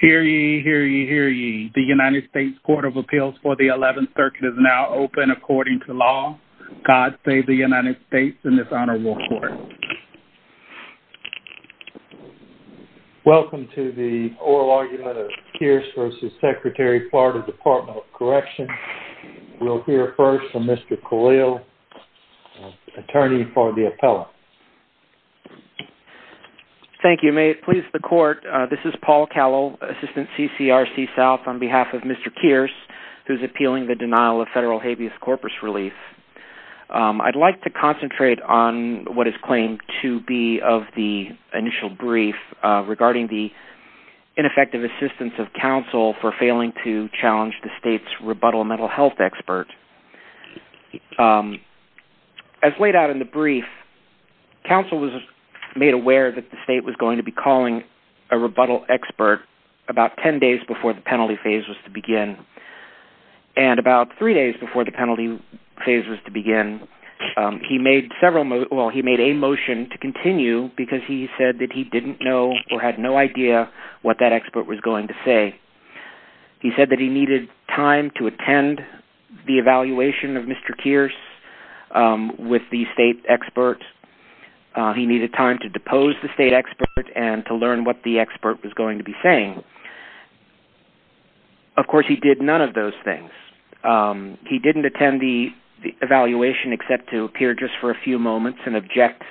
Hear ye, hear ye, hear ye. The United States Court of Appeals for the 11th Circuit is now open according to law. God save the United States in this honorable court. Welcome to the oral argument of Kearse v. Secretary, FL Dept. of Corrections. We'll hear first from Mr. Khalil, attorney for the appellant. Thank you. May it please the court, this is Paul Khalil, assistant CCRC South, on behalf of Mr. Kearse, who's appealing the denial of federal habeas corpus relief. I'd like to concentrate on what is claimed to be of the initial brief regarding the ineffective assistance of counsel for failing to challenge the state's rebuttal mental health expert. As laid out in the brief, counsel was made aware that the state was going to be calling a rebuttal expert about 10 days before the penalty phase was to begin, and about three days before the penalty phase was to begin, he made a motion to continue because he said that he didn't know or had no idea what that expert was going to say. He said that he needed time to attend the evaluation of Mr. Kearse with the state expert. He needed time to depose the state expert and to learn what the expert was going to be saying. Of course, he did none of those things. He didn't attend the evaluation except to appear just for a few moments and object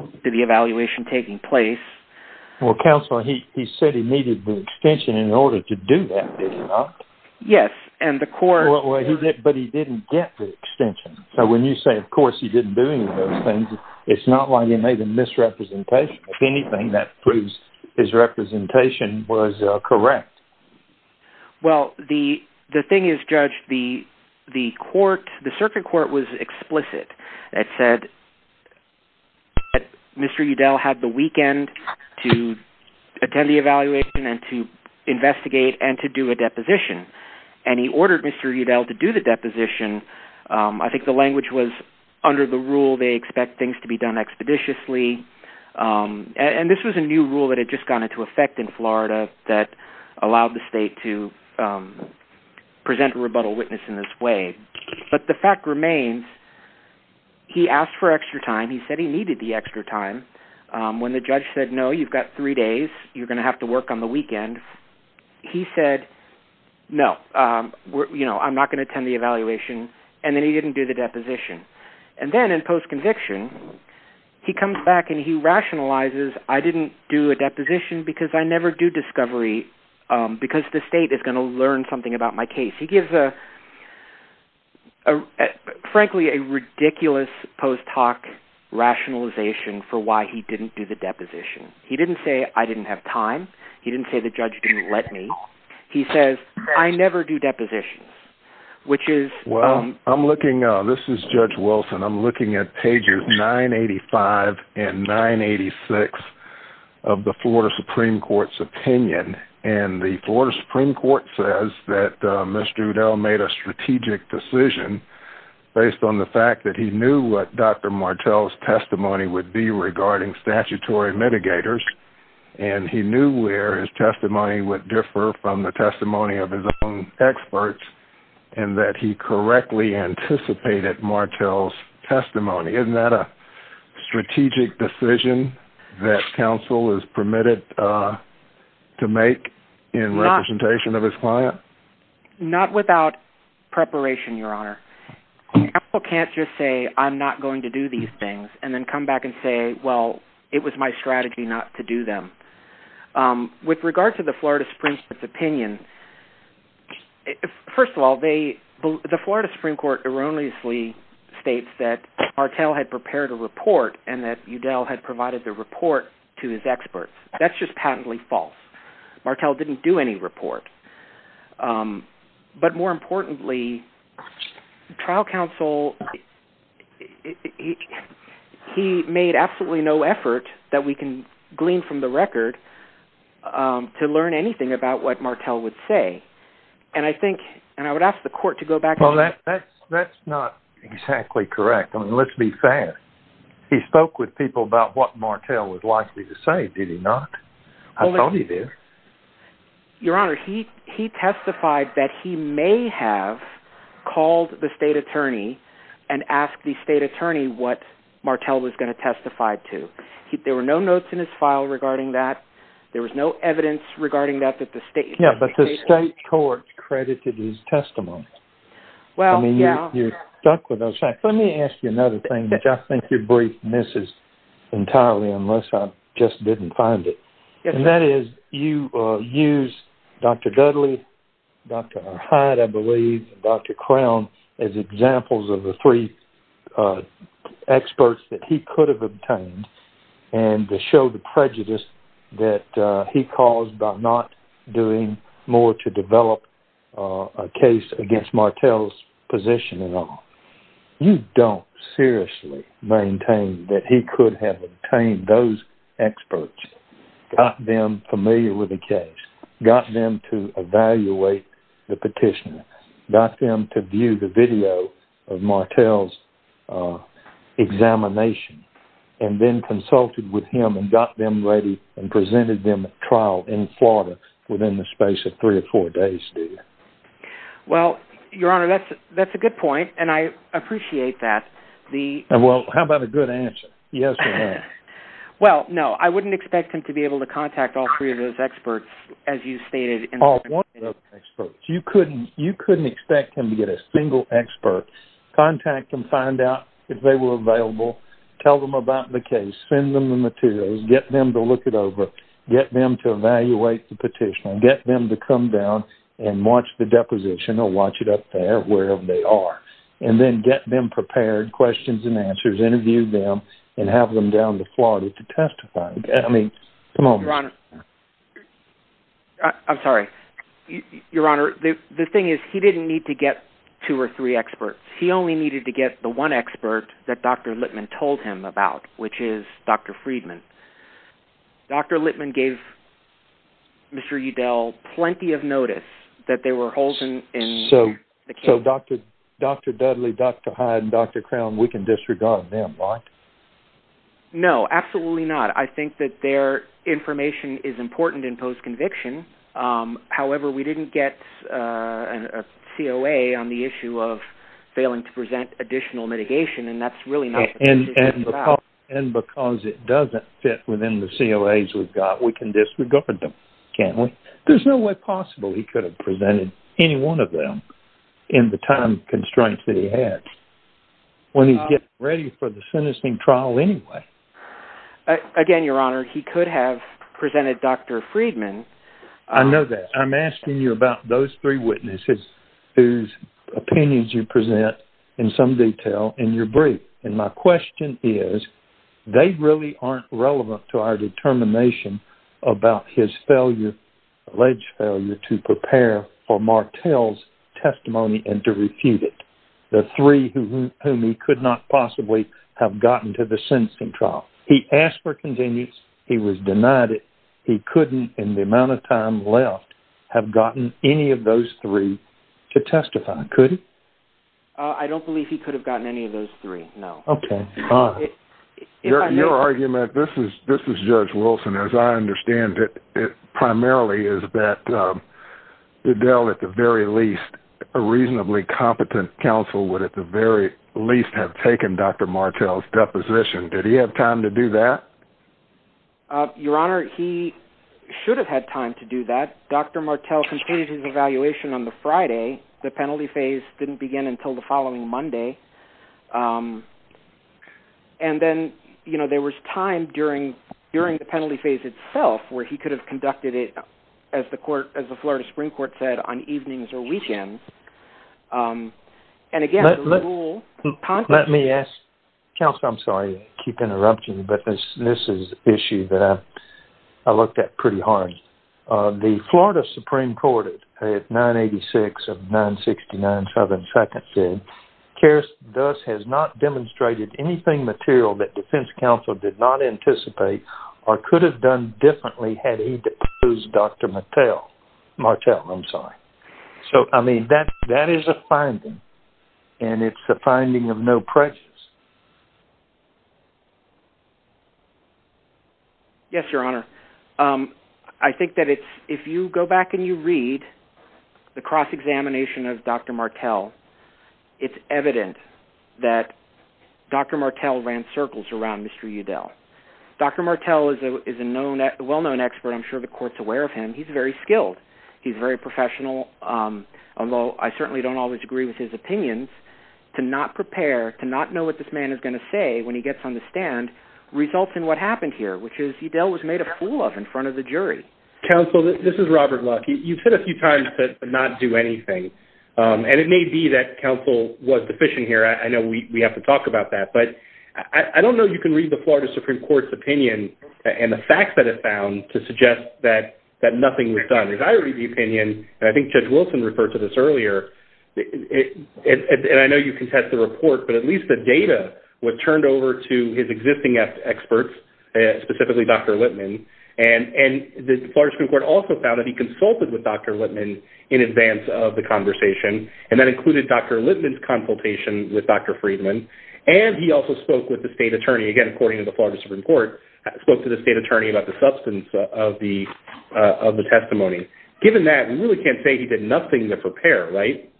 to the evaluation taking place. Well, counsel, he said he needed the extension in order to do that, did he not? Yes, and the court... But he didn't get the extension. So when you say, of course, he didn't do any of those things, it's not like he made a misrepresentation. If anything, that proves his representation was correct. Well, the thing is, Judge, the circuit court was explicit. It said that Mr. Udell had the weekend to attend the evaluation and to investigate and to do a deposition. And he ordered Mr. Udell to do the deposition. I think the language was, under the rule, they expect things to be done expeditiously. And this was a new rule that had just gone into effect in Florida that allowed the state to present a rebuttal witness in this way. But the fact remains, he asked for extra time. He said he needed the extra time. When the judge said, no, you've got three days. You're going to have to work on the weekend. He said, no, I'm not going to attend the evaluation. And then he didn't do the deposition. And then in post-conviction, he comes back and he rationalizes, I didn't do a deposition because I never do discovery because the state is going to learn something about my case. He gives a a frankly, a ridiculous post hoc rationalization for why he didn't do the deposition. He didn't say I didn't have time. He didn't say the judge didn't let me. He says, I never do depositions, which is, well, I'm looking, this is judge Wilson. I'm looking at pages 985 and 986 of the Florida Supreme Court's opinion. And the Florida Supreme Court says that Mr. Udell made a based on the fact that he knew what Dr. Martel's testimony would be regarding statutory mitigators. And he knew where his testimony would differ from the testimony of his own experts and that he correctly anticipated Martel's testimony. Isn't that a strategic decision that counsel is permitted to make in representation of his client? Not without preparation, Your Honor. Counsel can't just say, I'm not going to do these things and then come back and say, well, it was my strategy not to do them. With regard to the Florida Supreme Court's opinion, first of all, the Florida Supreme Court erroneously states that Martel had prepared a report and that Udell had provided the report to his experts. That's just but more importantly, trial counsel, he made absolutely no effort that we can glean from the record to learn anything about what Martel would say. And I think, and I would ask the court to go back. Well, that's not exactly correct. I mean, let's be fair. He spoke with people about what Martel was likely to say. Did not. I thought he did. Your Honor, he testified that he may have called the state attorney and asked the state attorney what Martel was going to testify to. There were no notes in his file regarding that. There was no evidence regarding that, that the state court credited his testimony. Well, I mean, you're stuck with those facts. Let me ask you another thing, which I think your brief misses entirely, unless I just didn't find it. And that is you use Dr. Dudley, Dr. Hyde, I believe, Dr. Crown as examples of the three experts that he could have obtained and to show the prejudice that he caused by not doing more to develop a case against Martel's position at all. You don't seriously maintain that he could have obtained those experts, got them familiar with the case, got them to evaluate the petition, got them to view the video of Martel's examination, and then consulted with him and got them ready and presented them at trial in Florida within the space of three or four days, do you? Well, your Honor, that's a good point. And I appreciate that. Well, how about a good answer? Yes or no? Well, no, I wouldn't expect him to be able to contact all three of those experts, as you stated. You couldn't expect him to get a single expert, contact them, find out if they were available, tell them about the case, send them the materials, get them to look it over, get them to evaluate the petition, get them to come down and watch the deposition or watch it up there wherever they are, and then get them prepared, questions and answers, interview them, and have them down to Florida to testify. I mean, come on. Your Honor, I'm sorry. Your Honor, the thing is he didn't need to get two or three experts. He only needed to get the one expert that Dr. Lippman told him about, which is Dr. Friedman. Dr. Lippman gave Mr. Udell plenty of notice that there were holes in the case. So Dr. Dudley, Dr. Hyde, and Dr. Crown, we can disregard them, right? No, absolutely not. I think that their information is important in post-conviction. However, we didn't get a COA on the issue of failing to present additional mitigation, and that's really not the case. And because it doesn't fit within the COAs we've got, we can disregard them, can't we? There's no way possible he could have presented any one of them in the time constraints that he has when he's getting ready for the sentencing trial anyway. Again, Your Honor, he could have presented Dr. Friedman. I know that. I'm asking you about those three witnesses whose opinions you present in some detail in your brief. And my question is, they really aren't relevant to our determination about his alleged failure to prepare for Martel's testimony and to refute it, the three whom he could not possibly have gotten to the sentencing trial. He asked for continuance. He was denied it. He couldn't, in the amount of time left, have gotten any of those three to testify, could he? I don't believe he could have gotten any of those three, no. Okay. Your argument, this is Judge Wilson, as I understand it, primarily is that Fidel, at the very least, a reasonably competent counsel would at the very least have taken Dr. Martel's deposition. Did he have time to do that? Your Honor, he should have had time to do that. Dr. Martel completed his evaluation on the Friday. The penalty phase didn't begin until the following Monday. And then, you know, there was time during the penalty phase itself where he could have conducted it, as the court, as the Florida Supreme Court said, on evenings or weekends. And again, the rule... Let me ask... Counsel, I'm sorry to keep interrupting, but this is an issue that I looked at pretty hard. The Florida Supreme Court at 986 of 969 Southern Second said, Karras has not demonstrated anything material that defense counsel did not anticipate or could have done differently had he deposed Dr. Martel. So, I mean, that is a finding, and it's a finding of no precious. Yes, Your Honor. I think that if you go back and you read the cross-examination of Dr. Martel, it's evident that Dr. Martel ran circles around Mr. Udell. Dr. Martel is a well-known expert. I'm certainly don't always agree with his opinions. To not prepare, to not know what this man is going to say when he gets on the stand results in what happened here, which is Udell was made a fool of in front of the jury. Counsel, this is Robert Luck. You've said a few times to not do anything, and it may be that counsel was deficient here. I know we have to talk about that, but I don't know if you can read the Florida Supreme Court's opinion and the facts that it found to be true. I think Judge Wilson referred to this earlier, and I know you contest the report, but at least the data was turned over to his existing experts, specifically Dr. Littman, and the Florida Supreme Court also found that he consulted with Dr. Littman in advance of the conversation, and that included Dr. Littman's consultation with Dr. Friedman, and he also spoke with the state attorney, again, according to the Florida Supreme Court, spoke to the state attorney about the substance of the testimony. Given that, we really can't say he did nothing to prepare, right?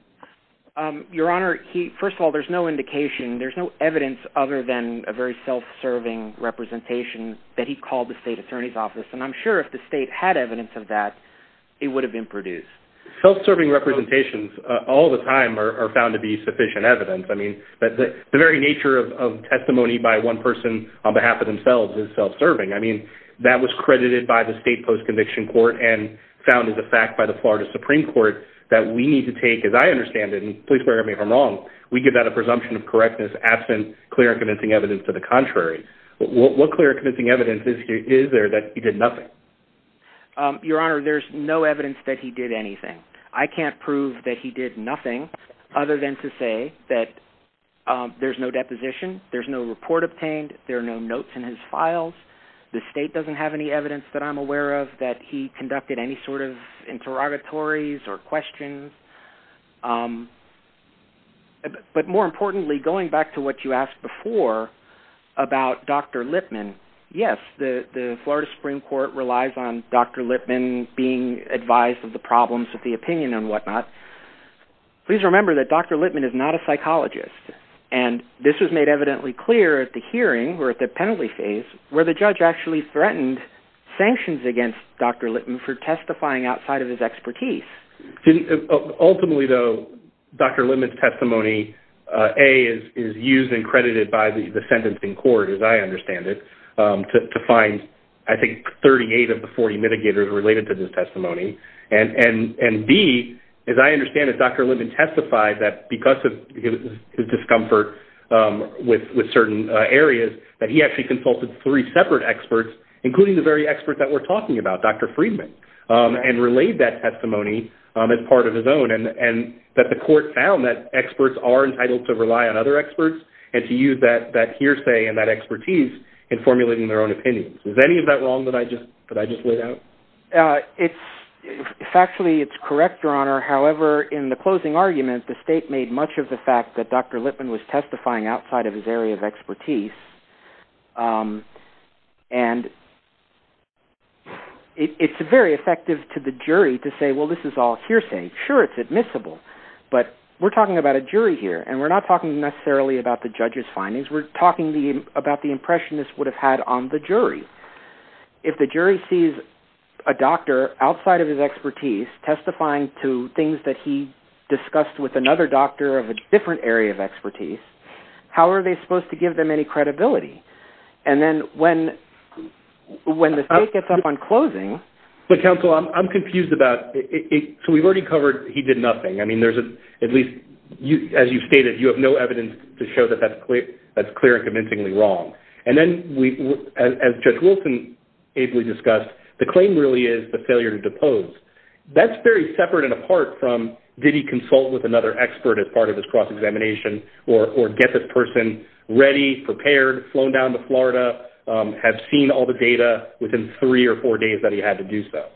Your Honor, first of all, there's no indication, there's no evidence other than a very self-serving representation that he called the state attorney's office, and I'm sure if the state had evidence of that, it would have been produced. Self-serving representations all the time are found to be sufficient evidence. I mean, the very nature of testimony by one person on behalf of themselves is self-serving. I mean, that was credited by the state post-conviction court and found as a fact by the Florida Supreme Court that we need to take, as I understand it, and please forgive me if I'm wrong, we give that a presumption of correctness absent clear and convincing evidence to the contrary. What clear and convincing evidence is there that he did nothing? Your Honor, there's no evidence that did anything. I can't prove that he did nothing other than to say that there's no deposition, there's no report obtained, there are no notes in his files. The state doesn't have any evidence that I'm aware of that he conducted any sort of interrogatories or questions. But more importantly, going back to what you asked before about Dr. Lipman, yes, the Florida Supreme Court is advised of the problems with the opinion and whatnot. Please remember that Dr. Lipman is not a psychologist. And this was made evidently clear at the hearing or at the penalty phase where the judge actually threatened sanctions against Dr. Lipman for testifying outside of his expertise. Ultimately, though, Dr. Lipman's testimony, A, is used and credited by the sentencing court, as I understand it, to find, I think, 38 of the 40 mitigators related to this and, B, as I understand it, Dr. Lipman testified that because of his discomfort with certain areas that he actually consulted three separate experts, including the very expert that we're talking about, Dr. Friedman, and relayed that testimony as part of his own and that the court found that experts are entitled to rely on other experts and to use that hearsay and that expertise in formulating their own opinions. Is any of that wrong that I just laid out? It's, factually, it's correct, Your Honor. However, in the closing argument, the state made much of the fact that Dr. Lipman was testifying outside of his area of expertise, and it's very effective to the jury to say, well, this is all hearsay. Sure, it's admissible, but we're talking about a jury here, and we're not talking necessarily about the judge's findings. We're talking about the impression this would have had on the jury. If the jury sees a doctor outside of his expertise testifying to things that he discussed with another doctor of a different area of expertise, how are they supposed to give them any credibility? And then when the state gets up on closing... But, counsel, I'm confused about... So, we've already covered he did nothing. I mean, there's at least, as you've stated, you have no evidence to show that that's clear and convincingly wrong. And then, as Judge Wilson ably discussed, the claim really is the failure to depose. That's very separate and apart from did he consult with another expert as part of his cross-examination or get this person ready, prepared, flown down to Florida, have seen all the data within three or four days that he had to do so.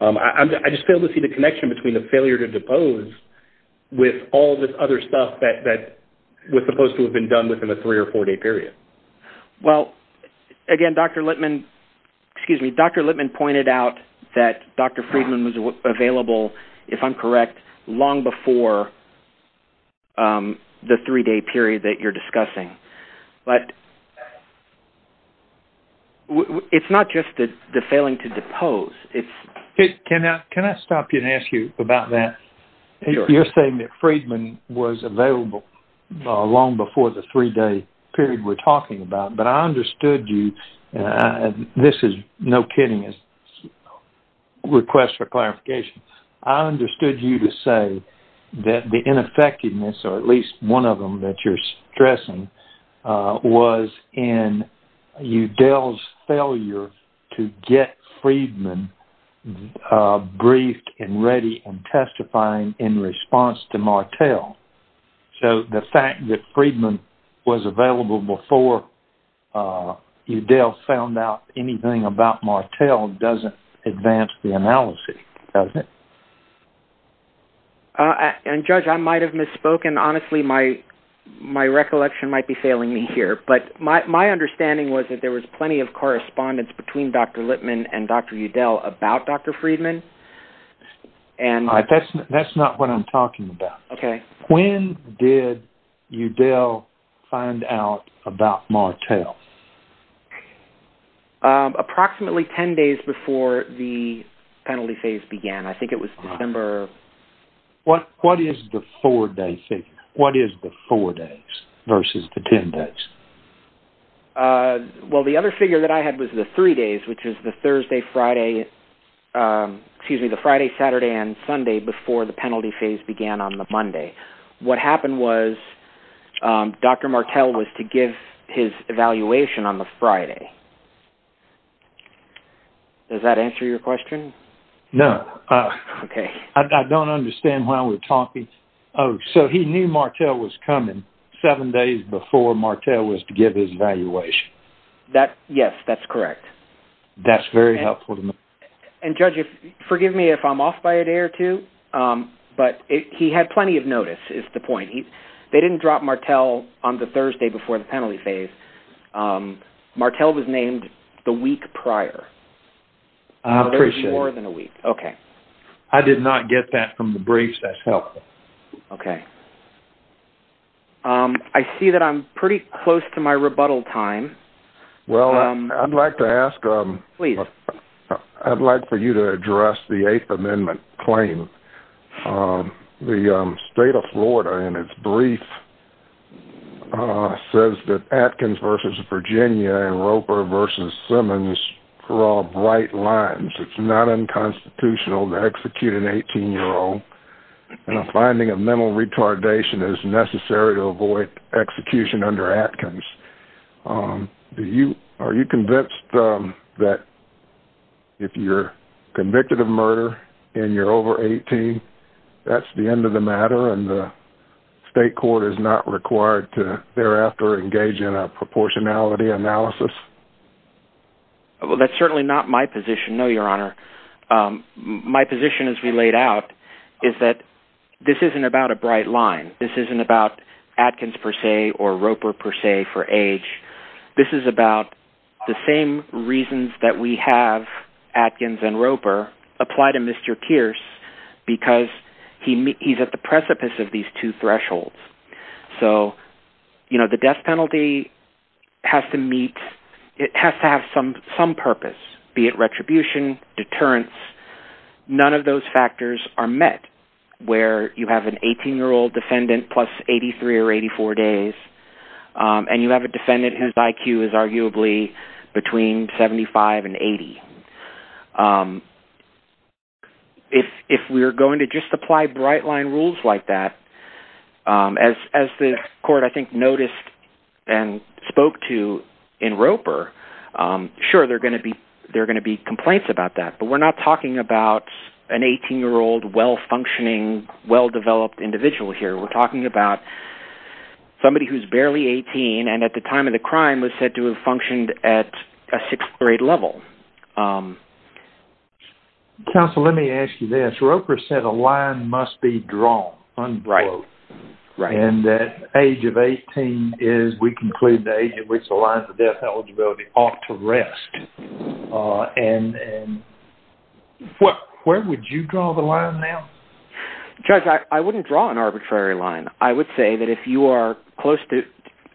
I just fail to see the connection between the failure to depose with all this other stuff that was supposed to have done within a three- or four-day period. Well, again, Dr. Lippman... Excuse me. Dr. Lippman pointed out that Dr. Friedman was available, if I'm correct, long before the three-day period that you're discussing. But... It's not just the failing to depose. It's... Can I stop you and ask you about that? You're saying that Friedman was available long before the three-day period we're talking about. But I understood you... This is no kidding as a request for clarification. I understood you to say that the ineffectiveness, or at least one of them that you're stressing, was in Udell's failure to get Friedman briefed and ready and testifying in response to Martel. So the fact that Friedman was available before Udell found out anything about Martel doesn't advance the analysis, does it? And, Judge, I might have misspoken. Honestly, my recollection might be failing me here. But my understanding was that there was plenty correspondence between Dr. Lippman and Dr. Udell about Dr. Friedman. That's not what I'm talking about. Okay. When did Udell find out about Martel? Approximately 10 days before the penalty phase began. I think it was December... What is the four-day figure? What is the four days versus the 10 days? Well, the other figure that I had was the three days, which is the Thursday, Friday, excuse me, the Friday, Saturday, and Sunday before the penalty phase began on the Monday. What happened was Dr. Martel was to give his evaluation on the Friday. Does that answer your question? No. Okay. I don't understand why we're talking... Oh, so he knew Martel was coming seven days before Martel was to give his evaluation. Yes, that's correct. That's very helpful to me. And, Judge, forgive me if I'm off by a day or two, but he had plenty of notice is the point. They didn't drop Martel on the Thursday before the penalty phase. Martel was named the week prior. I appreciate it. There was more than a week. Okay. I did not get that from the briefs. That's helpful. Okay. I see that I'm pretty close to my rebuttal time. Well, I'd like to ask... Please. I'd like for you to address the Eighth Amendment claim. The state of Florida, in its brief, says that Atkins versus Virginia and Roper versus Simmons draw bright lines. It's not unconstitutional to execute an 18-year-old. And a finding of mental retardation is necessary to avoid execution under Atkins. Are you convinced that if you're convicted of murder and you're over 18, that's the end of the matter and the state court is not required to, thereafter, engage in a proportionality analysis? That's certainly not my position, no, Your Honor. My position, as we laid out, is that this isn't about a bright line. This isn't about Atkins, per se, or Roper, per se, for age. This is about the same reasons that we have Atkins and Roper apply to Mr. Pierce, because he's at the precipice of these two thresholds. So, you know, the death penalty has to meet... retribution, deterrence, none of those factors are met where you have an 18-year-old defendant plus 83 or 84 days, and you have a defendant whose IQ is arguably between 75 and 80. If we're going to just apply bright line rules like that, as the court, I think, noticed and there are going to be complaints about that, but we're not talking about an 18-year-old, well-functioning, well-developed individual here. We're talking about somebody who's barely 18 and, at the time of the crime, was said to have functioned at a sixth grade level. Counsel, let me ask you this. Roper said a line must be drawn, unquote, and that age of 18 is, we conclude, the age at which the lines of death eligibility ought to rest. And where would you draw the line now? Judge, I wouldn't draw an arbitrary line. I would say that if you are close to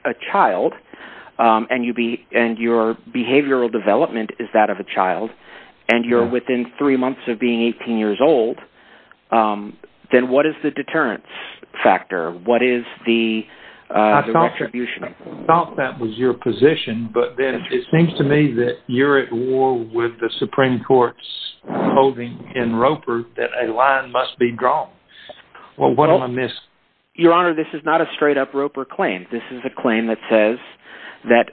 a child, and your behavioral development is that of a child, and you're within three months of being 18 years old, then what is the deterrence factor? What is the retribution? I thought that was your position, but then it seems to me that you're at war with the Supreme Court's holding in Roper that a line must be drawn. Well, what am I missing? Your Honor, this is not a straight-up Roper claim. This is a claim that says that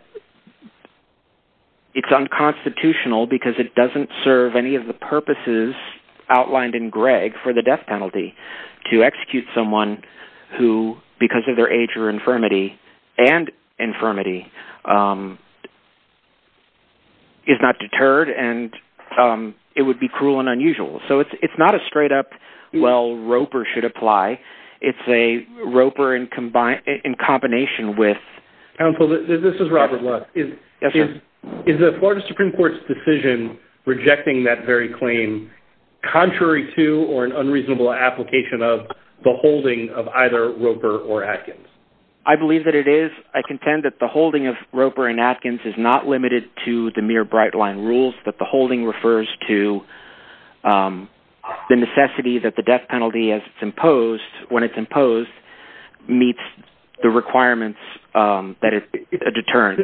it's unconstitutional because it doesn't serve any of the purposes outlined in Gregg for the death penalty to execute someone who, because of their age or infirmity, and infirmity, is not deterred, and it would be cruel and unusual. So it's not a straight-up, well, Roper should apply. It's a Roper in combination with... Counsel, this is Robert Lutz. Contrary to or an unreasonable application of the holding of either Roper or Atkins? I believe that it is. I contend that the holding of Roper and Atkins is not limited to the mere bright-line rules, that the holding refers to the necessity that the death penalty, as it's imposed, when it's imposed, meets the requirements that it determines.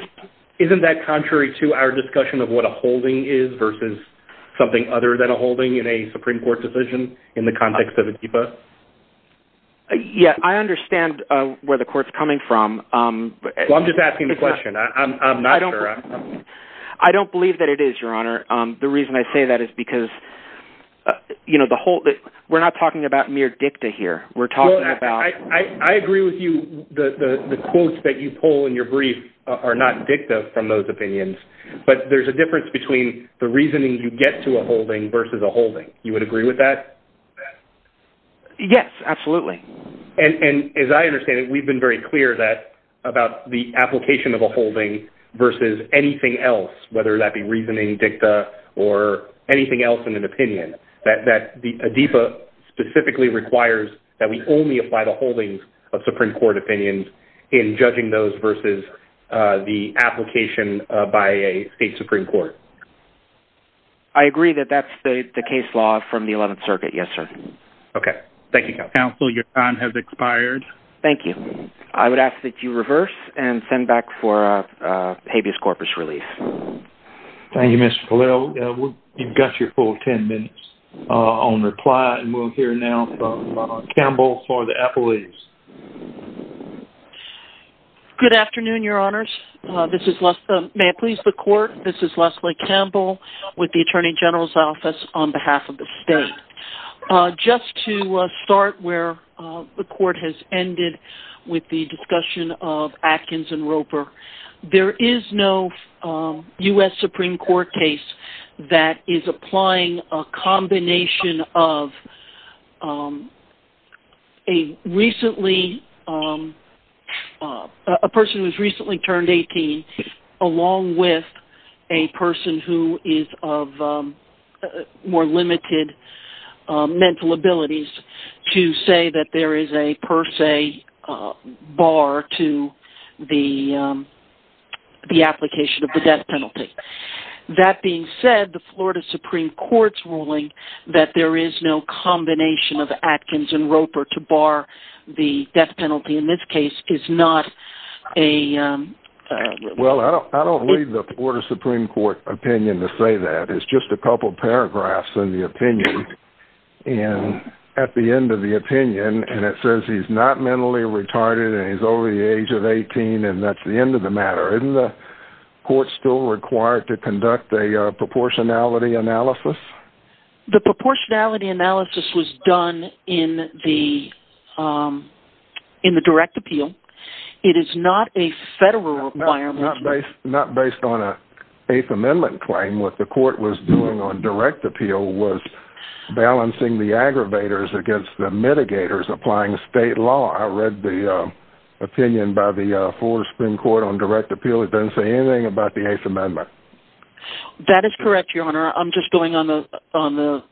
Isn't that contrary to our discussion of what a holding is versus something other than a holding in a Supreme Court decision in the context of a DIPA? Yeah, I understand where the court's coming from. Well, I'm just asking the question. I'm not sure. I don't believe that it is, Your Honor. The reason I say that is because, you know, the whole... We're not talking about mere dicta here. We're talking about... Well, I agree with you. The quotes that you pull in your brief are not dicta from those opinions. But there's a difference between the reasoning you get to a holding versus a holding. You would agree with that? Yes, absolutely. And as I understand it, we've been very clear about the application of a holding versus anything else, whether that be reasoning dicta or anything else in an opinion, that a DIPA specifically requires that we only apply the holdings of Supreme Court opinions in judging those versus the application by a state Supreme Court. I agree that that's the case law from the 11th Circuit. Yes, sir. Okay. Thank you, Counsel. Counsel, your time has expired. Thank you. I would ask that you reverse and send back for habeas corpus release. Thank you, Mr. Pallel. You've got your full 10 minutes on reply, and we'll hear now from Campbell for the affiliates. Good afternoon, Your Honors. May I please the Court? This is Leslie Campbell with the Attorney General's Office on behalf of the state. Just to start where the Court has ended with the discussion of Atkins and Roper, there is no U.S. Supreme Court case that is applying a combination of a person who has recently turned 18 along with a person who is of more limited mental abilities to say that there is a per se bar to the application of the death penalty. That being said, the Florida Supreme Court's ruling that there is no combination of Atkins and Roper to bar the death penalty in this case is not a... Well, I don't leave the Florida Supreme Court opinion to say that. It's just a couple paragraphs in the opinion, and at the end of the opinion, and it says he's not mentally retarded and he's over the age of 18, and that's the end of the matter. Isn't the Court still required to conduct a proportionality analysis? The proportionality analysis was done in the direct appeal. It is not a federal requirement. Not based on an Eighth Amendment claim. What the Court was doing on direct appeal was opinion by the Florida Supreme Court on direct appeal. It doesn't say anything about the Eighth Amendment. That is correct, Your Honor. I'm just going on the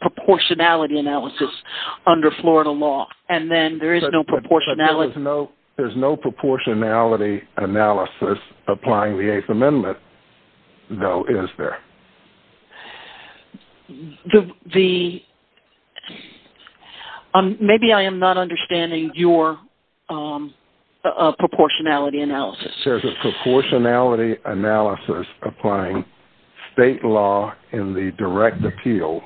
proportionality analysis under Florida law, and then there is no proportionality... There's no proportionality analysis applying the Eighth Amendment, though, is there? The... Maybe I am not understanding your proportionality analysis. There's a proportionality analysis applying state law in the direct appeal.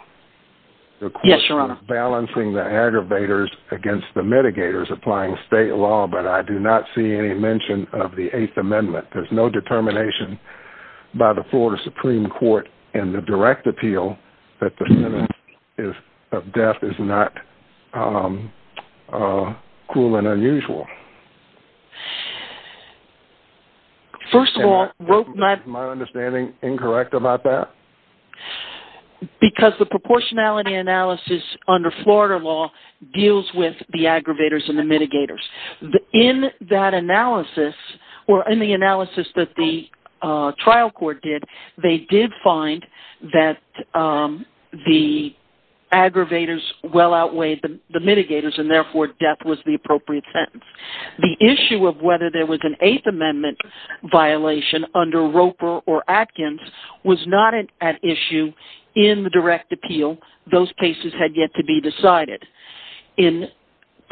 Yes, Your Honor. Balancing the aggravators against the mitigators, applying state law, but I do not see any mention of the Eighth Amendment. There's no determination by the Florida Supreme Court in the direct appeal that the sentence of death is not cruel and unusual. First of all... Is my understanding incorrect about that? Because the proportionality analysis under Florida law deals with the aggravators and the analysis that the trial court did. They did find that the aggravators well outweighed the mitigators, and therefore death was the appropriate sentence. The issue of whether there was an Eighth Amendment violation under Roper or Atkins was not an issue in the direct appeal. Those cases had yet to be decided. In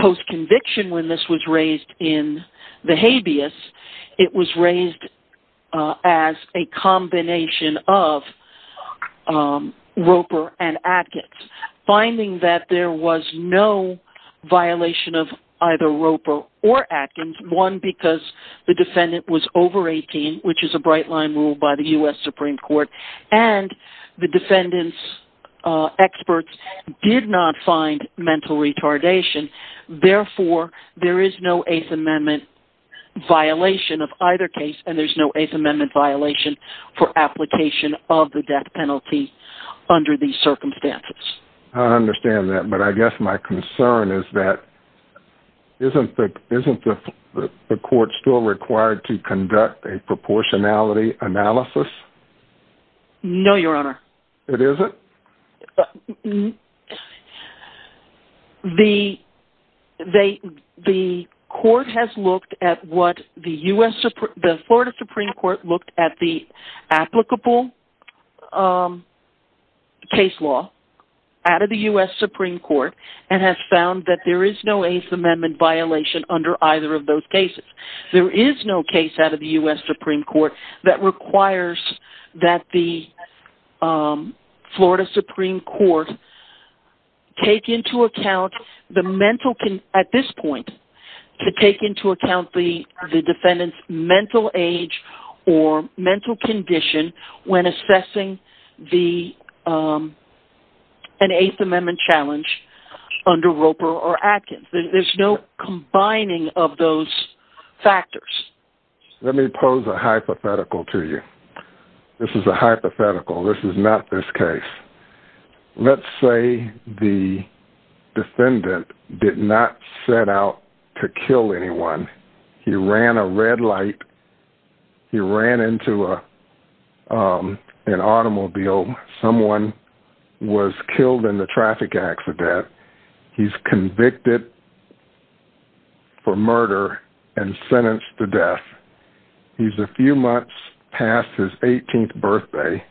post-conviction, when this was raised in the habeas, it was raised as a combination of Roper and Atkins. Finding that there was no violation of either Roper or Atkins, one because the defendant was over 18, which is a bright-line rule by the U.S. Supreme Court, and the defendant's find mental retardation. Therefore, there is no Eighth Amendment violation of either case, and there's no Eighth Amendment violation for application of the death penalty under these circumstances. I understand that, but I guess my concern is that isn't the court still required to conduct a proportionality analysis? No, Your Honor. It isn't? The court has looked at what the Florida Supreme Court looked at the applicable case law out of the U.S. Supreme Court and has found that there is no Eighth Amendment violation under either of those cases. There is no case out of the U.S. Supreme Court that requires that the Florida Supreme Court take into account the defendant's mental age or mental condition when assessing an Eighth Amendment challenge under Roper or Atkins. There's no combining of those factors. Let me pose a hypothetical to you. This is a hypothetical. This is not this case. Let's say the defendant did not set out to kill anyone. He ran a red light. He ran into an automobile. Someone was killed in the traffic accident. He's convicted for murder and sentenced to death. He's a few months past his 18th birthday,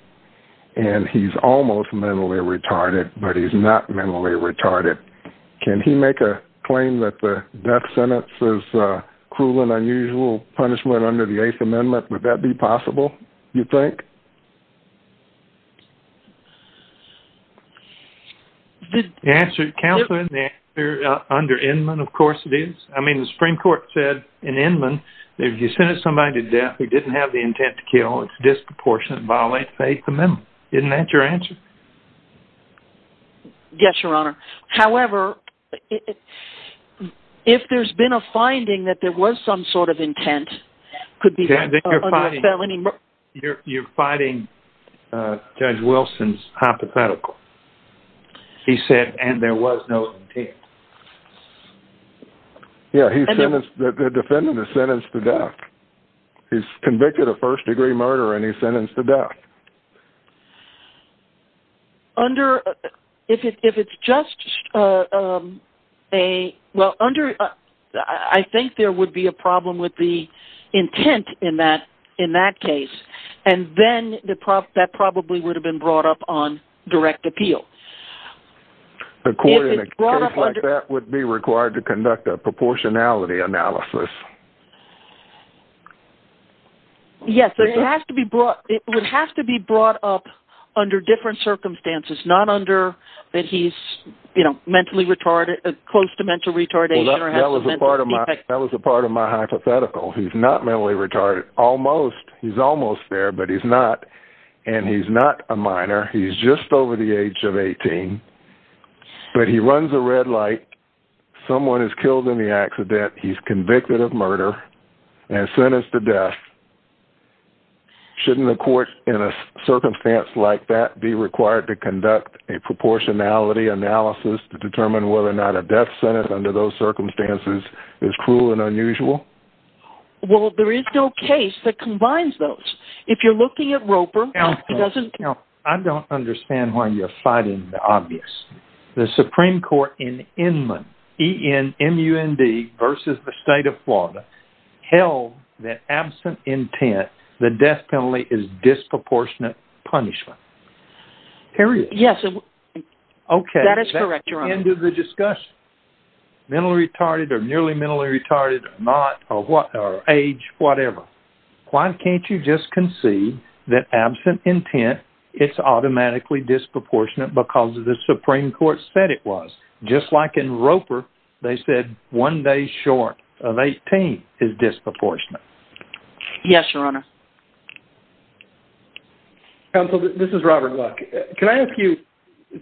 and he's almost mentally retarded, but he's not mentally retarded. Can he make a claim that the death sentence is cruel and unusual punishment under the Eighth Amendment? Would that be possible, you think? Counselor, the answer under Inman, of course it is. I mean, the Supreme Court said in Inman, if you sentence somebody to death who didn't have the intent to kill, it's disproportionate and violates the Eighth Amendment. Isn't that your answer? Yes, Your Honor. However, if there's been a finding that there was some sort of intent, then you're fighting Judge Wilson's hypothetical. He said, and there was no intent. Yes, the defendant is sentenced to death. He's convicted of first-degree murder, and he's sentenced to death. I think there would be a problem with the intent in that case, and then that probably would have been brought up on direct appeal. In a case like that would be required to conduct a proportionality analysis. Yes, it would have to be brought up under different circumstances, not under that he's mentally retarded, close to mental retardation. That was a part of my hypothetical. He's not mentally retarded. He's almost there, but he's not, and he's not a minor. He's just convicted of murder and sentenced to death. Shouldn't the court in a circumstance like that be required to conduct a proportionality analysis to determine whether or not a death sentence under those circumstances is cruel and unusual? Well, there is no case that combines those. If you're looking at Roper, it doesn't count. I don't understand why you're fighting the obvious. The Supreme Court in Inman, E-N-M-U-N-D versus the state of Florida, held that absent intent, the death penalty is disproportionate punishment. Period. Yes, that is correct, Your Honor. Okay, that's the end of the discussion. Mentally retarded or nearly mentally retarded, not, or age, whatever. Why can't you just concede that absent intent, it's automatically disproportionate because the Supreme Court said it was? Just like in Roper, they said one day short of 18 is disproportionate. Yes, Your Honor. Counsel, this is Robert Luck. Can I ask you,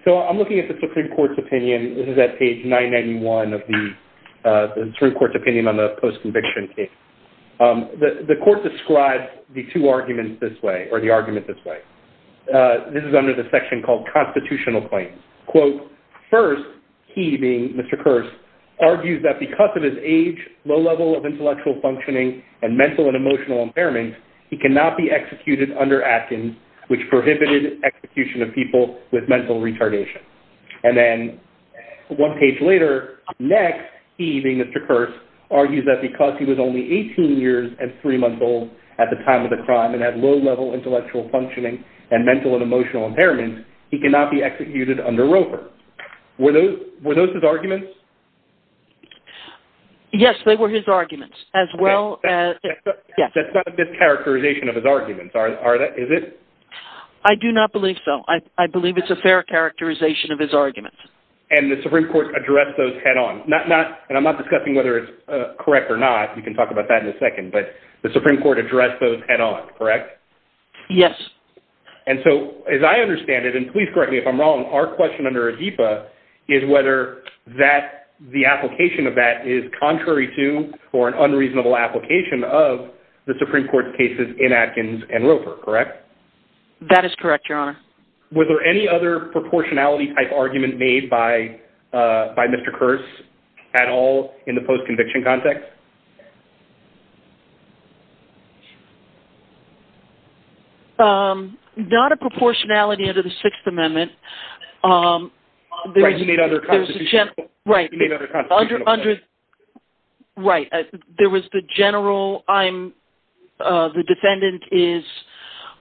so I'm looking at the Supreme Court's opinion. This is at page 991 of the Supreme Court's opinion on the post-conviction case. The court describes the two arguments this way, or the argument this way. This is under the section called Constitutional Claims. First, he, being Mr. Kearse, argues that because of his age, low level of intellectual functioning, and mental and emotional impairment, he cannot be executed under Atkins, which prohibited execution of people with mental retardation. Then one page later, next, he, being Mr. Kearse, argues that because he was only 18 years and three months old at the time of the crime and had low level intellectual functioning and mental and emotional impairment, he cannot be executed under Roper. Were those his arguments? Yes, they were his arguments as well. That's not a discharacterization of his arguments, is it? I do not believe so. I believe it's a fair characterization of his arguments. And the Supreme Court addressed those head on, and I'm not discussing whether it's correct or not. We can talk about that in a second, but the Supreme Court addressed those head on, correct? Yes. And so, as I understand it, and please correct me if I'm wrong, our question under ADIPA is whether the application of that is contrary to or an unreasonable application of the Supreme Court's cases in Atkins and Roper, correct? That is correct, Your Honor. Was there any other proportionality-type argument made by Mr. Kearse at all in the post-conviction context? Not a proportionality under the Sixth Amendment. Right, he made other constitutional- Right. Right. There was the general, the defendant is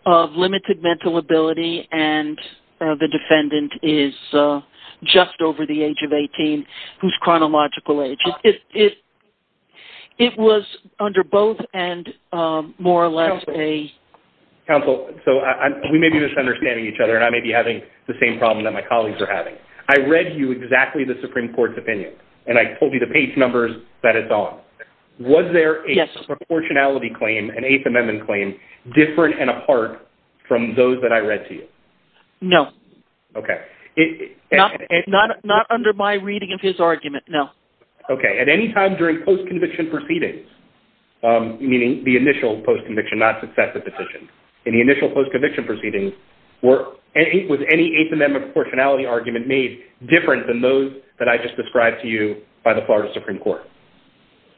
of limited mental ability, and the defendant is just over the age of 18, who's chronological age. It was under both and more or less a- Counsel, so we may be misunderstanding each other, and I may be having the same problem that my colleagues are having. I read you exactly the Supreme Court's opinion, and I told you the page numbers that it's on. Was there a proportionality claim, an Eighth Amendment claim, different and apart from those that I read to you? No. Okay. Not under my reading of his argument, no. Okay. At any time during post-conviction proceedings, meaning the initial post-conviction, not successive petitions, in the initial post-conviction proceedings, was any Eighth Amendment proportionality argument made different than those that I just described to you by the Florida Supreme Court?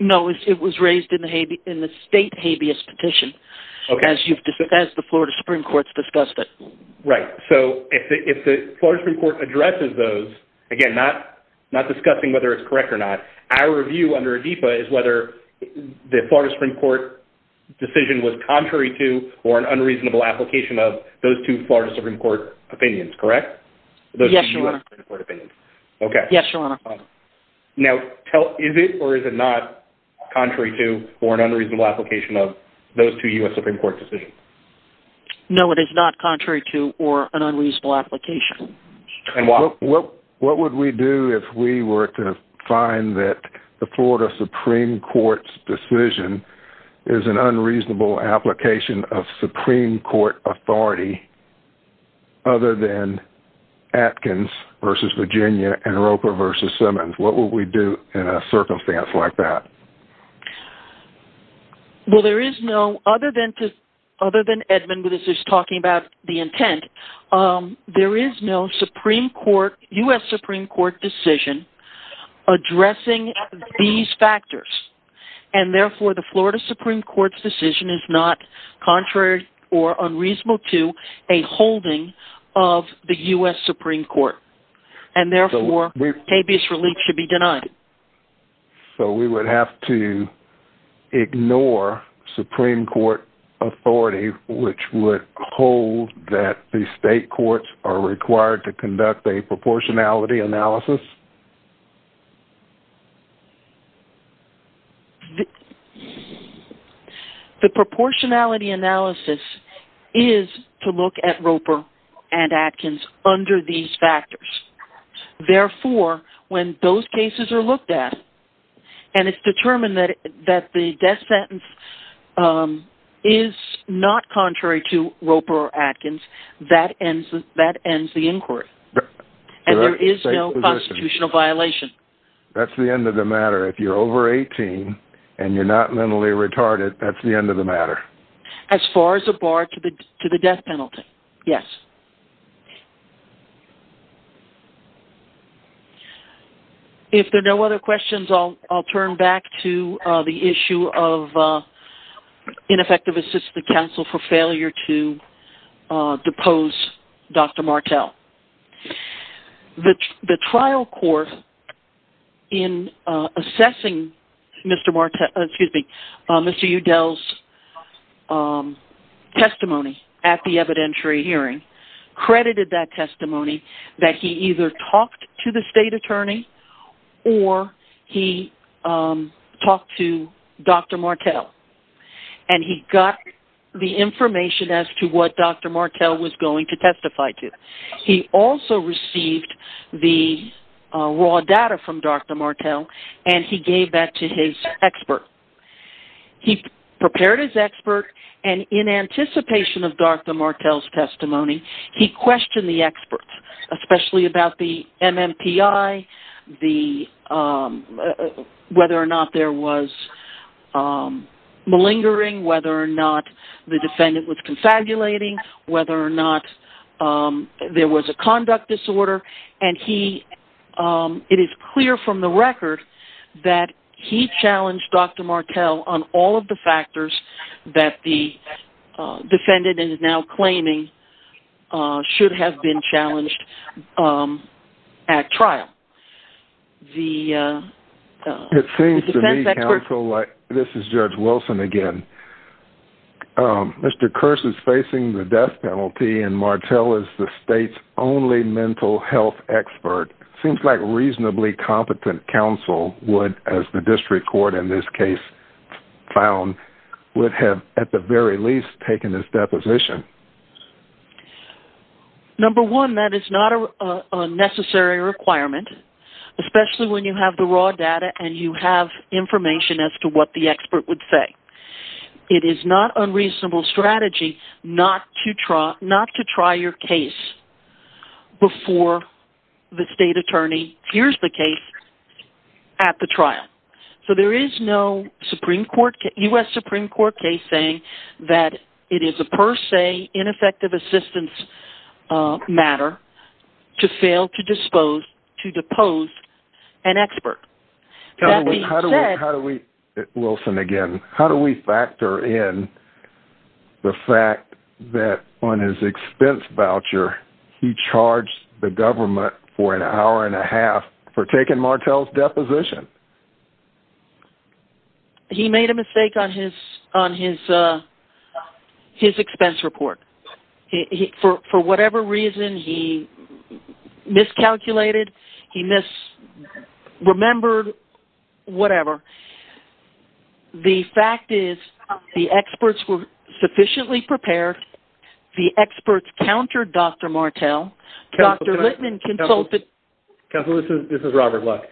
No, it was raised in the state habeas petition, as the Florida Supreme Court's discussed it. Right. So, if the Florida Supreme Court addresses those, again, not discussing whether it's correct or not, our review under ADEPA is whether the Florida Supreme Court decision was contrary to or an unreasonable application of those two Florida Supreme Court opinions, correct? Yes, Your Honor. Okay. Now, is it or is it not contrary to or an unreasonable application of those two U.S. Supreme Court decisions? No, it is not contrary to or an unreasonable application. What would we do if we were to find that the Florida Supreme Court's decision is an unreasonable application of Supreme Court authority, other than Atkins v. Virginia and Roper v. Simmons? What would we do in a circumstance like that? Well, there is no, other than Edmund, who was just talking about the intent, there is no Supreme Court, U.S. Supreme Court decision addressing these factors. And therefore, the Florida Supreme Court's decision is not contrary or unreasonable to a holding of the U.S. Supreme Court. And therefore, habeas relief should be denied. So, we would have to ignore Supreme Court authority, which would hold that the state courts are required to conduct a proportionality analysis? The proportionality analysis is to look at Roper and Atkins under these factors. Therefore, when those cases are looked at and it's determined that the death sentence is not contrary to Roper or Atkins, that ends the inquiry. And there is no constitutional violation. That's the end of the matter. If you're over 18 and you're not mentally retarded, that's the end of the matter. As far as a bar to the death penalty, yes. Thank you. If there are no other questions, I'll turn back to the issue of ineffective assistive counsel for failure to depose Dr. Martel. The trial court in assessing Mr. Martel, excuse me, Mr. Udell's testimony at the evidentiary hearing credited that testimony that he either talked to the state attorney or he talked to Dr. Martel and he got the information as to what Dr. Martel was going to testify to. He also received the raw data from Dr. Martel and he gave that to his expert. He prepared his expert and in anticipation of Dr. Martel's testimony, he questioned the experts, especially about the MMPI, whether or not there was malingering, whether or not the defendant was confabulating, whether or not there was a conduct disorder. And it is clear from the record that he challenged Dr. Martel on all of the factors that the defendant is now claiming should have been challenged at trial. This is Judge Wilson again. Mr. Kearse is facing the death penalty and Martel is the state's only mental health expert. Seems like reasonably competent counsel would, as the district court in this case found, would have at the very least taken his deposition. Number one, that is not a necessary requirement, especially when you have the raw data and you have information as to what the expert would say. It is not unreasonable strategy not to try your case before the state attorney hears the case at the trial. So there is no U.S. Supreme Court case saying that it is a per se ineffective assistance matter to fail to dispose, to depose an expert. How do we, Wilson again, how do we factor in the fact that on his expense voucher he charged the government for an hour and a half for taking Martel's deposition? He made a mistake on his expense report. He, for whatever reason, he miscalculated. He misremembered whatever. The fact is the experts were sufficiently prepared. The experts countered Dr. Martel. Dr. Littman consulted. Counsel, this is Robert Luck.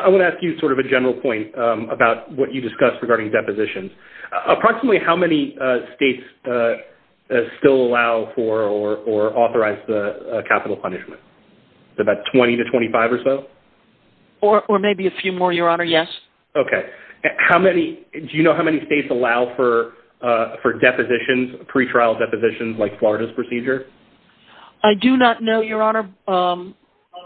I want to ask you sort of a general point about what you discussed regarding depositions. Approximately how many states still allow for or authorize the capital punishment? About 20 to 25 or so? Or maybe a few more, your honor, yes. Okay. How many, do you know how many states allow for depositions, pre-trial depositions like Florida's procedure? I do not know, your honor.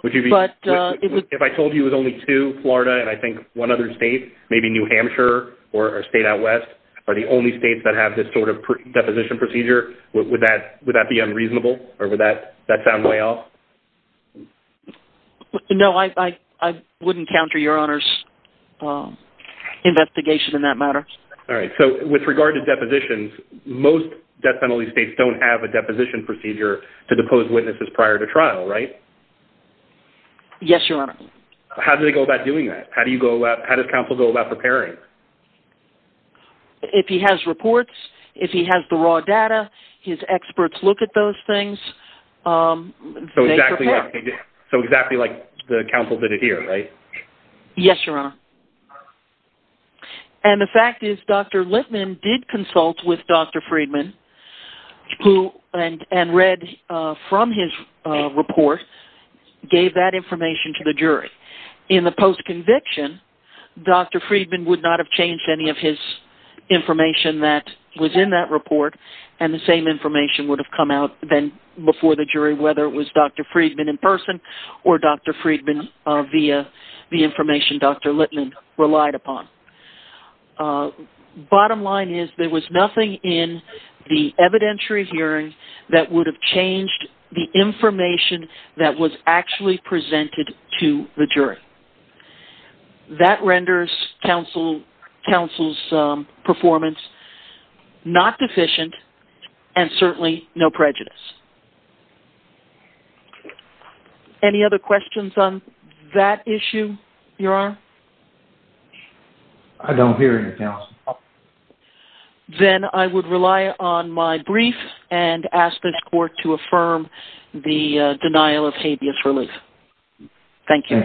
If I told you it was only two, Florida and I think one other state, maybe New Hampshire or a state out west are the only states that have this sort of deposition procedure. Would that be unreasonable or would that sound way off? No, I wouldn't counter your honor's investigation in that matter. All right. With regard to depositions, most death penalty states don't have a deposition procedure to depose witnesses prior to trial, right? Yes, your honor. How do they go about doing that? How do you go about, how does counsel go about preparing? If he has reports, if he has the raw data, his experts look at those things. So exactly like the counsel did it here, right? Yes, your honor. And the fact is Dr. Lippman did consult with Dr. Friedman and read from his report, gave that information to the jury. In the post-conviction, Dr. Friedman would not have changed any of his information that was in that report. And the same information would have come out then before the jury, whether it was Dr. Friedman in person or Dr. Friedman via the information Dr. Lippman relied upon. Bottom line is there was nothing in the evidentiary hearing that would have changed the information that was actually presented to the jury. That renders counsel's performance not deficient and certainly no prejudice. Any other questions on that issue, your honor? No. Then I would rely on my brief and ask this court to affirm the denial of habeas relief. Thank you.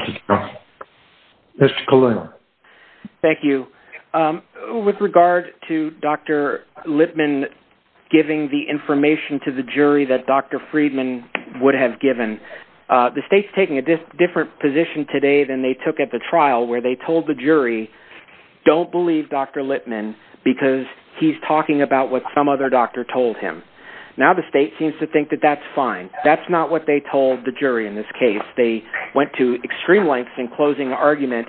Thank you. With regard to Dr. Lippman giving the information to the jury that Dr. Friedman would have given, the state's taking a different position today than they took at the trial where they told the jury, don't believe Dr. Lippman because he's talking about what some other doctor told him. Now the state seems to think that that's fine. That's not what they told the jury in this case. They went to extreme lengths in closing argument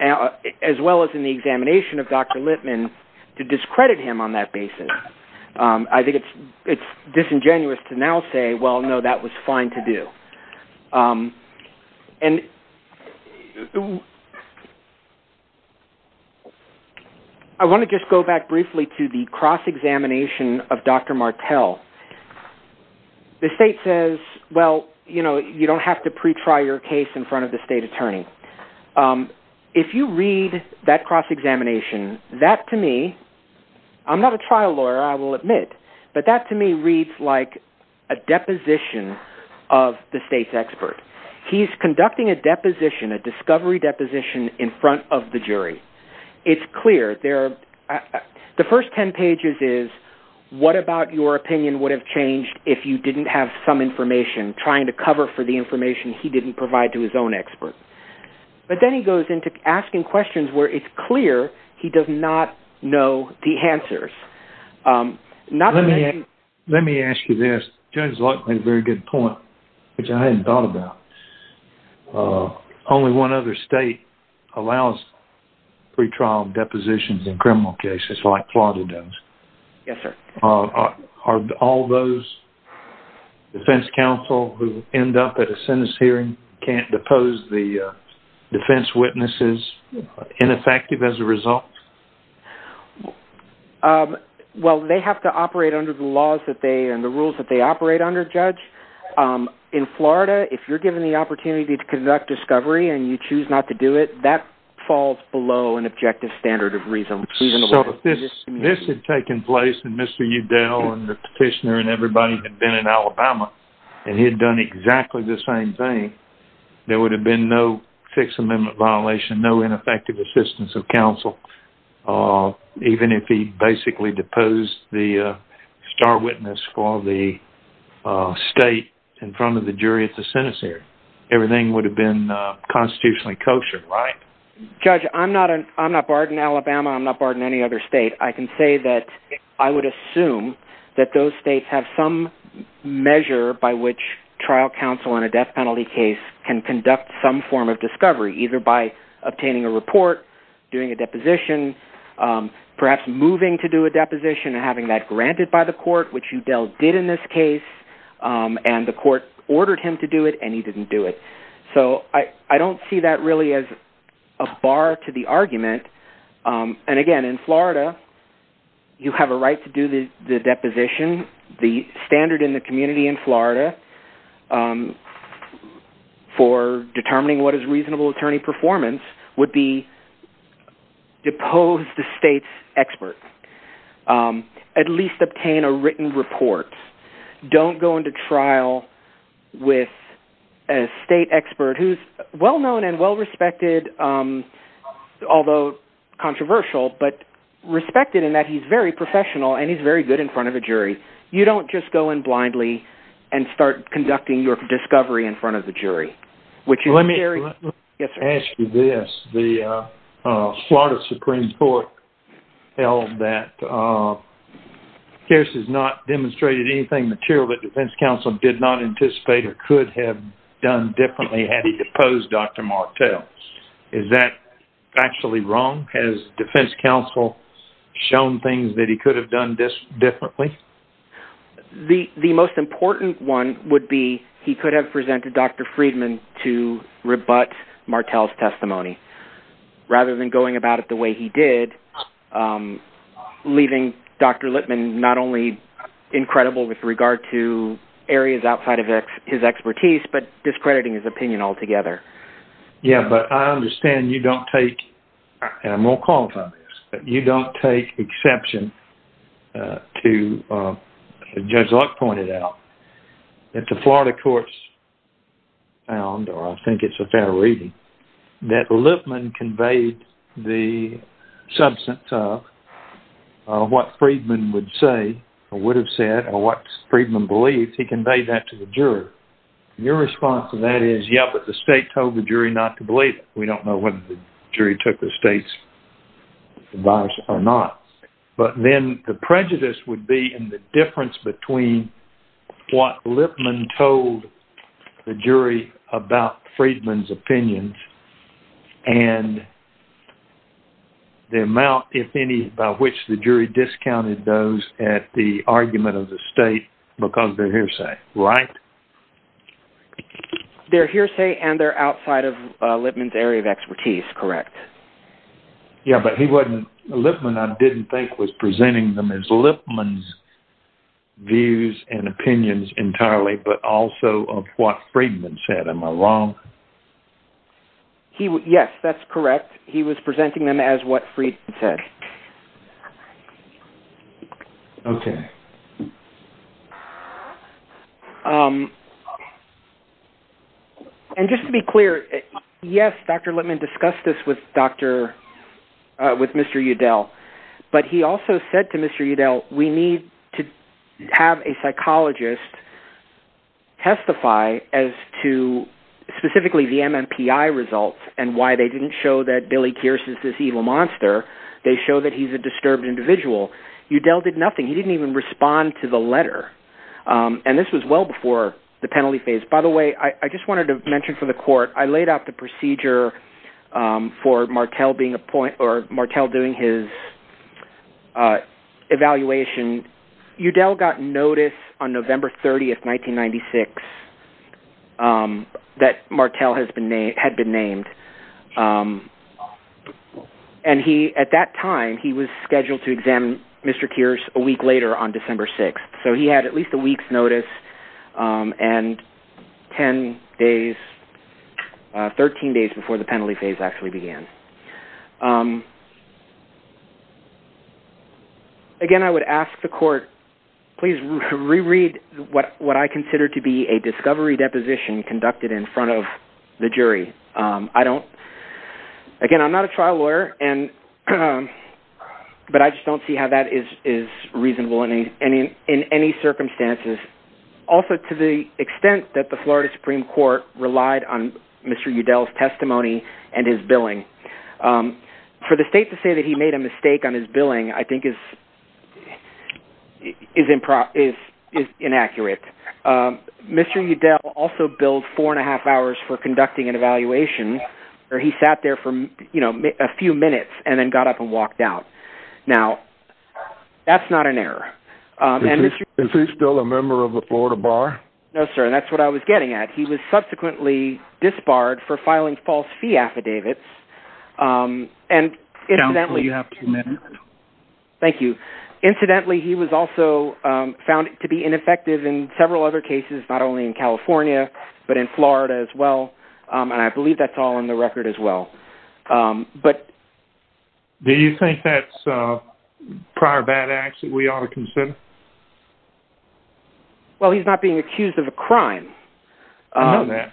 as well as in the examination of Dr. Lippman to discredit him on that basis. I think it's disingenuous to now say, well, no, that was fine to do. And I want to just go back briefly to the cross-examination of Dr. Martel. The state says, well, you don't have to pre-try your case in front of the state attorney. If you read that cross-examination, that to me, I'm not a trial lawyer, I will admit, but that to me reads like a deposition of the state's expert. He's conducting a deposition, a discovery deposition in front of the jury. It's clear. The first 10 pages is what about your opinion would have changed if you didn't have some information trying to cover for the information he didn't provide to his own expert. But then he goes into asking questions where it's clear he does not know the answers. Let me ask you this. Judge Larkin made a very good point, which I hadn't thought about. Only one other state allows pre-trial depositions in criminal cases, like Florida does. Are all those defense counsel who end up at a sentence hearing, can't depose the defense witnesses, ineffective as a result? Well, they have to operate under the laws and the rules that they operate under, Judge. In Florida, if you're given the opportunity to conduct discovery and you choose not to do it, that falls below an objective standard of reason. This had taken place and Mr. Udell and the petitioner and everybody had been in Alabama and he had done exactly the same thing, there would have been no fixed amendment violation, no ineffective assistance of counsel, even if he basically deposed the star witness for the state in front of the jury at the sentence hearing. Everything would have been constitutionally kosher, right? Judge, I'm not barred in Alabama. I'm not barred in any other state. I can say that I would assume that those states have some measure by which trial counsel in a death penalty case can conduct some form of discovery, either by obtaining a report, doing a deposition, perhaps moving to do a deposition and having that granted by the court, which Udell did in this case and the court ordered him to do it and he didn't do it. So I don't see that really as a bar to the argument. And again, in Florida, you have a right to do the deposition, the standard in the community in Florida. For determining what is reasonable attorney performance would be deposed the state's expert. At least obtain a written report. Don't go into trial with a state expert who's well-known and well-respected, although controversial, but respected in that he's very professional and he's very good in front of a jury. You don't just go in blindly and start discovery in front of the jury. Let me ask you this. The Florida Supreme Court held that Pierce has not demonstrated anything material that defense counsel did not anticipate or could have done differently had he deposed Dr. Martel. Is that actually wrong? Has defense counsel shown things that he could have done differently? The most important one would be he could have presented Dr. Friedman to rebut Martel's testimony rather than going about it the way he did, leaving Dr. Lippman not only incredible with regard to areas outside of his expertise, but discrediting his opinion altogether. Yeah, but I understand you don't take, and I won't qualify this, but you don't take exception to, as Judge Luck pointed out, that the Florida courts found, or I think it's a fair reading, that Lippman conveyed the substance of what Friedman would say or would have said or what Friedman believed. He conveyed that to the jury. Your response to that is, yeah, but the state told the jury not to believe it. We don't know whether the jury took the state's advice or not, but then the prejudice would be in the difference between what Lippman told the jury about Friedman's opinions and the amount, if any, by which the jury discounted those at the argument of the state because their hearsay, right? Their hearsay and their outside of Lippman's area of expertise, correct. Yeah, but Lippman, I didn't think, was presenting them as Lippman's views and opinions entirely, but also of what Friedman said. Am I wrong? Yes, that's correct. He was presenting them as what Friedman said. Okay. And just to be clear, yes, Dr. Lippman discussed this with Mr. Udell, but he also said to Mr. Udell, we need to have a psychologist testify as to specifically the MMPI results and why they show that he's a disturbed individual. Udell did nothing. He didn't even respond to the letter, and this was well before the penalty phase. By the way, I just wanted to mention for the court, I laid out the procedure for Martel doing his evaluation. Udell got notice on November 30th, 1996, that Martel had been named. And he, at that time, he was scheduled to examine Mr. Kearse a week later on December 6th. So he had at least a week's notice and 10 days, 13 days before the penalty phase actually began. Again, I would ask the court, please reread what I consider to be a discovery deposition conducted in front of the jury. I don't, again, I'm not a trial lawyer, but I just don't see how that is reasonable in any circumstances. Also to the extent that the Florida Supreme Court relied on Mr. Udell's testimony and his billing. For the state to say that he made a mistake on his billing, I think is inaccurate. Mr. Udell also billed four and a half hours for conducting an evaluation where he sat there for a few minutes and then got up and walked out. Now, that's not an error. And Mr. Udell- Is he still a member of the Florida Bar? No, sir. And that's what I was getting at. He was subsequently disbarred for filing false fee affidavits. And incidentally- Counsel, you have two minutes. Thank you. Incidentally, he was also found to be ineffective in several other cases, not only in California, but in Florida as well. And I believe that's all on the record as well. Do you think that's prior bad acts that we ought to consider? Well, he's not being accused of a crime. I know that.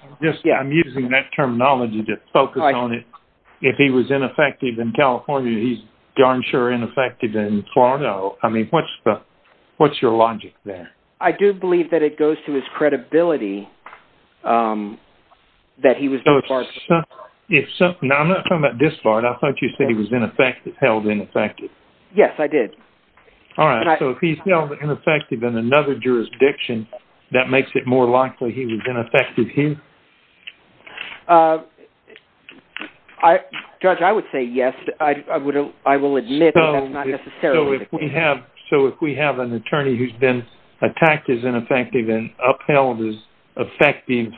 I'm using that terminology to focus on it. If he was ineffective in California, he's darn sure ineffective in Florida. I mean, what's your logic there? I do believe that it goes to his credibility that he was disbarred. Now, I'm not talking about disbarred. I thought you said he was held ineffective. Yes, I did. All right. So if he's held ineffective in another jurisdiction, that makes it more likely he was ineffective here? Judge, I would say yes. I will admit that that's not necessarily the case. So if we have an attorney who's been attacked as ineffective and upheld as effective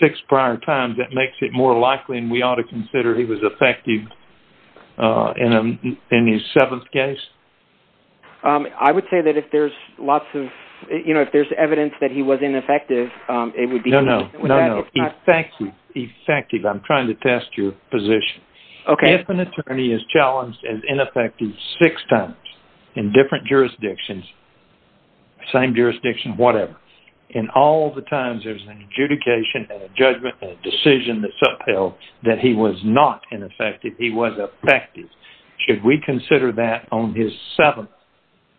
six prior times, that makes it more likely and we ought to consider he was effective in his seventh case? I would say that if there's lots of, you know, if there's evidence that he was ineffective, it would be... No, no. Effective. I'm trying to test your position. Okay. If an attorney is challenged as ineffective six times in different jurisdictions, same jurisdiction, whatever, and all the times there's an adjudication, a judgment, a decision that's upheld that he was not ineffective, he was effective, should we consider that on his seventh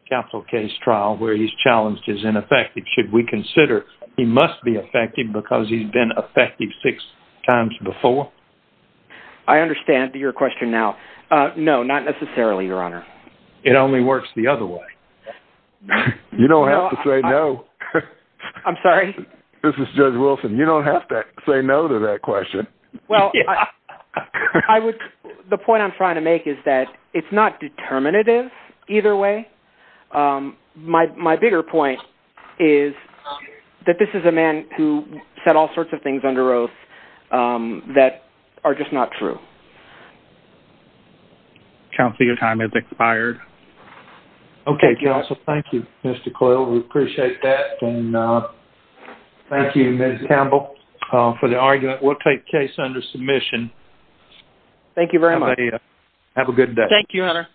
capital case trial where he's challenged as ineffective? Should we consider he must be effective because he's been effective six times before? I understand your question now. No, not necessarily, Your Honor. It only works the other way. You don't have to say no. I'm sorry? This is Judge Wilson. You don't have to say no to that question. Well, the point I'm trying to make is that it's not determinative either way. My bigger point is that this is a man who said all sorts of things under oath that are just not true. Counsel, your time has expired. Okay, counsel. Thank you, Mr. Coyle. We appreciate that and thank you, Ms. Campbell, for the argument. We'll take case under submission. Thank you very much. Have a good day. Thank you, Your Honor.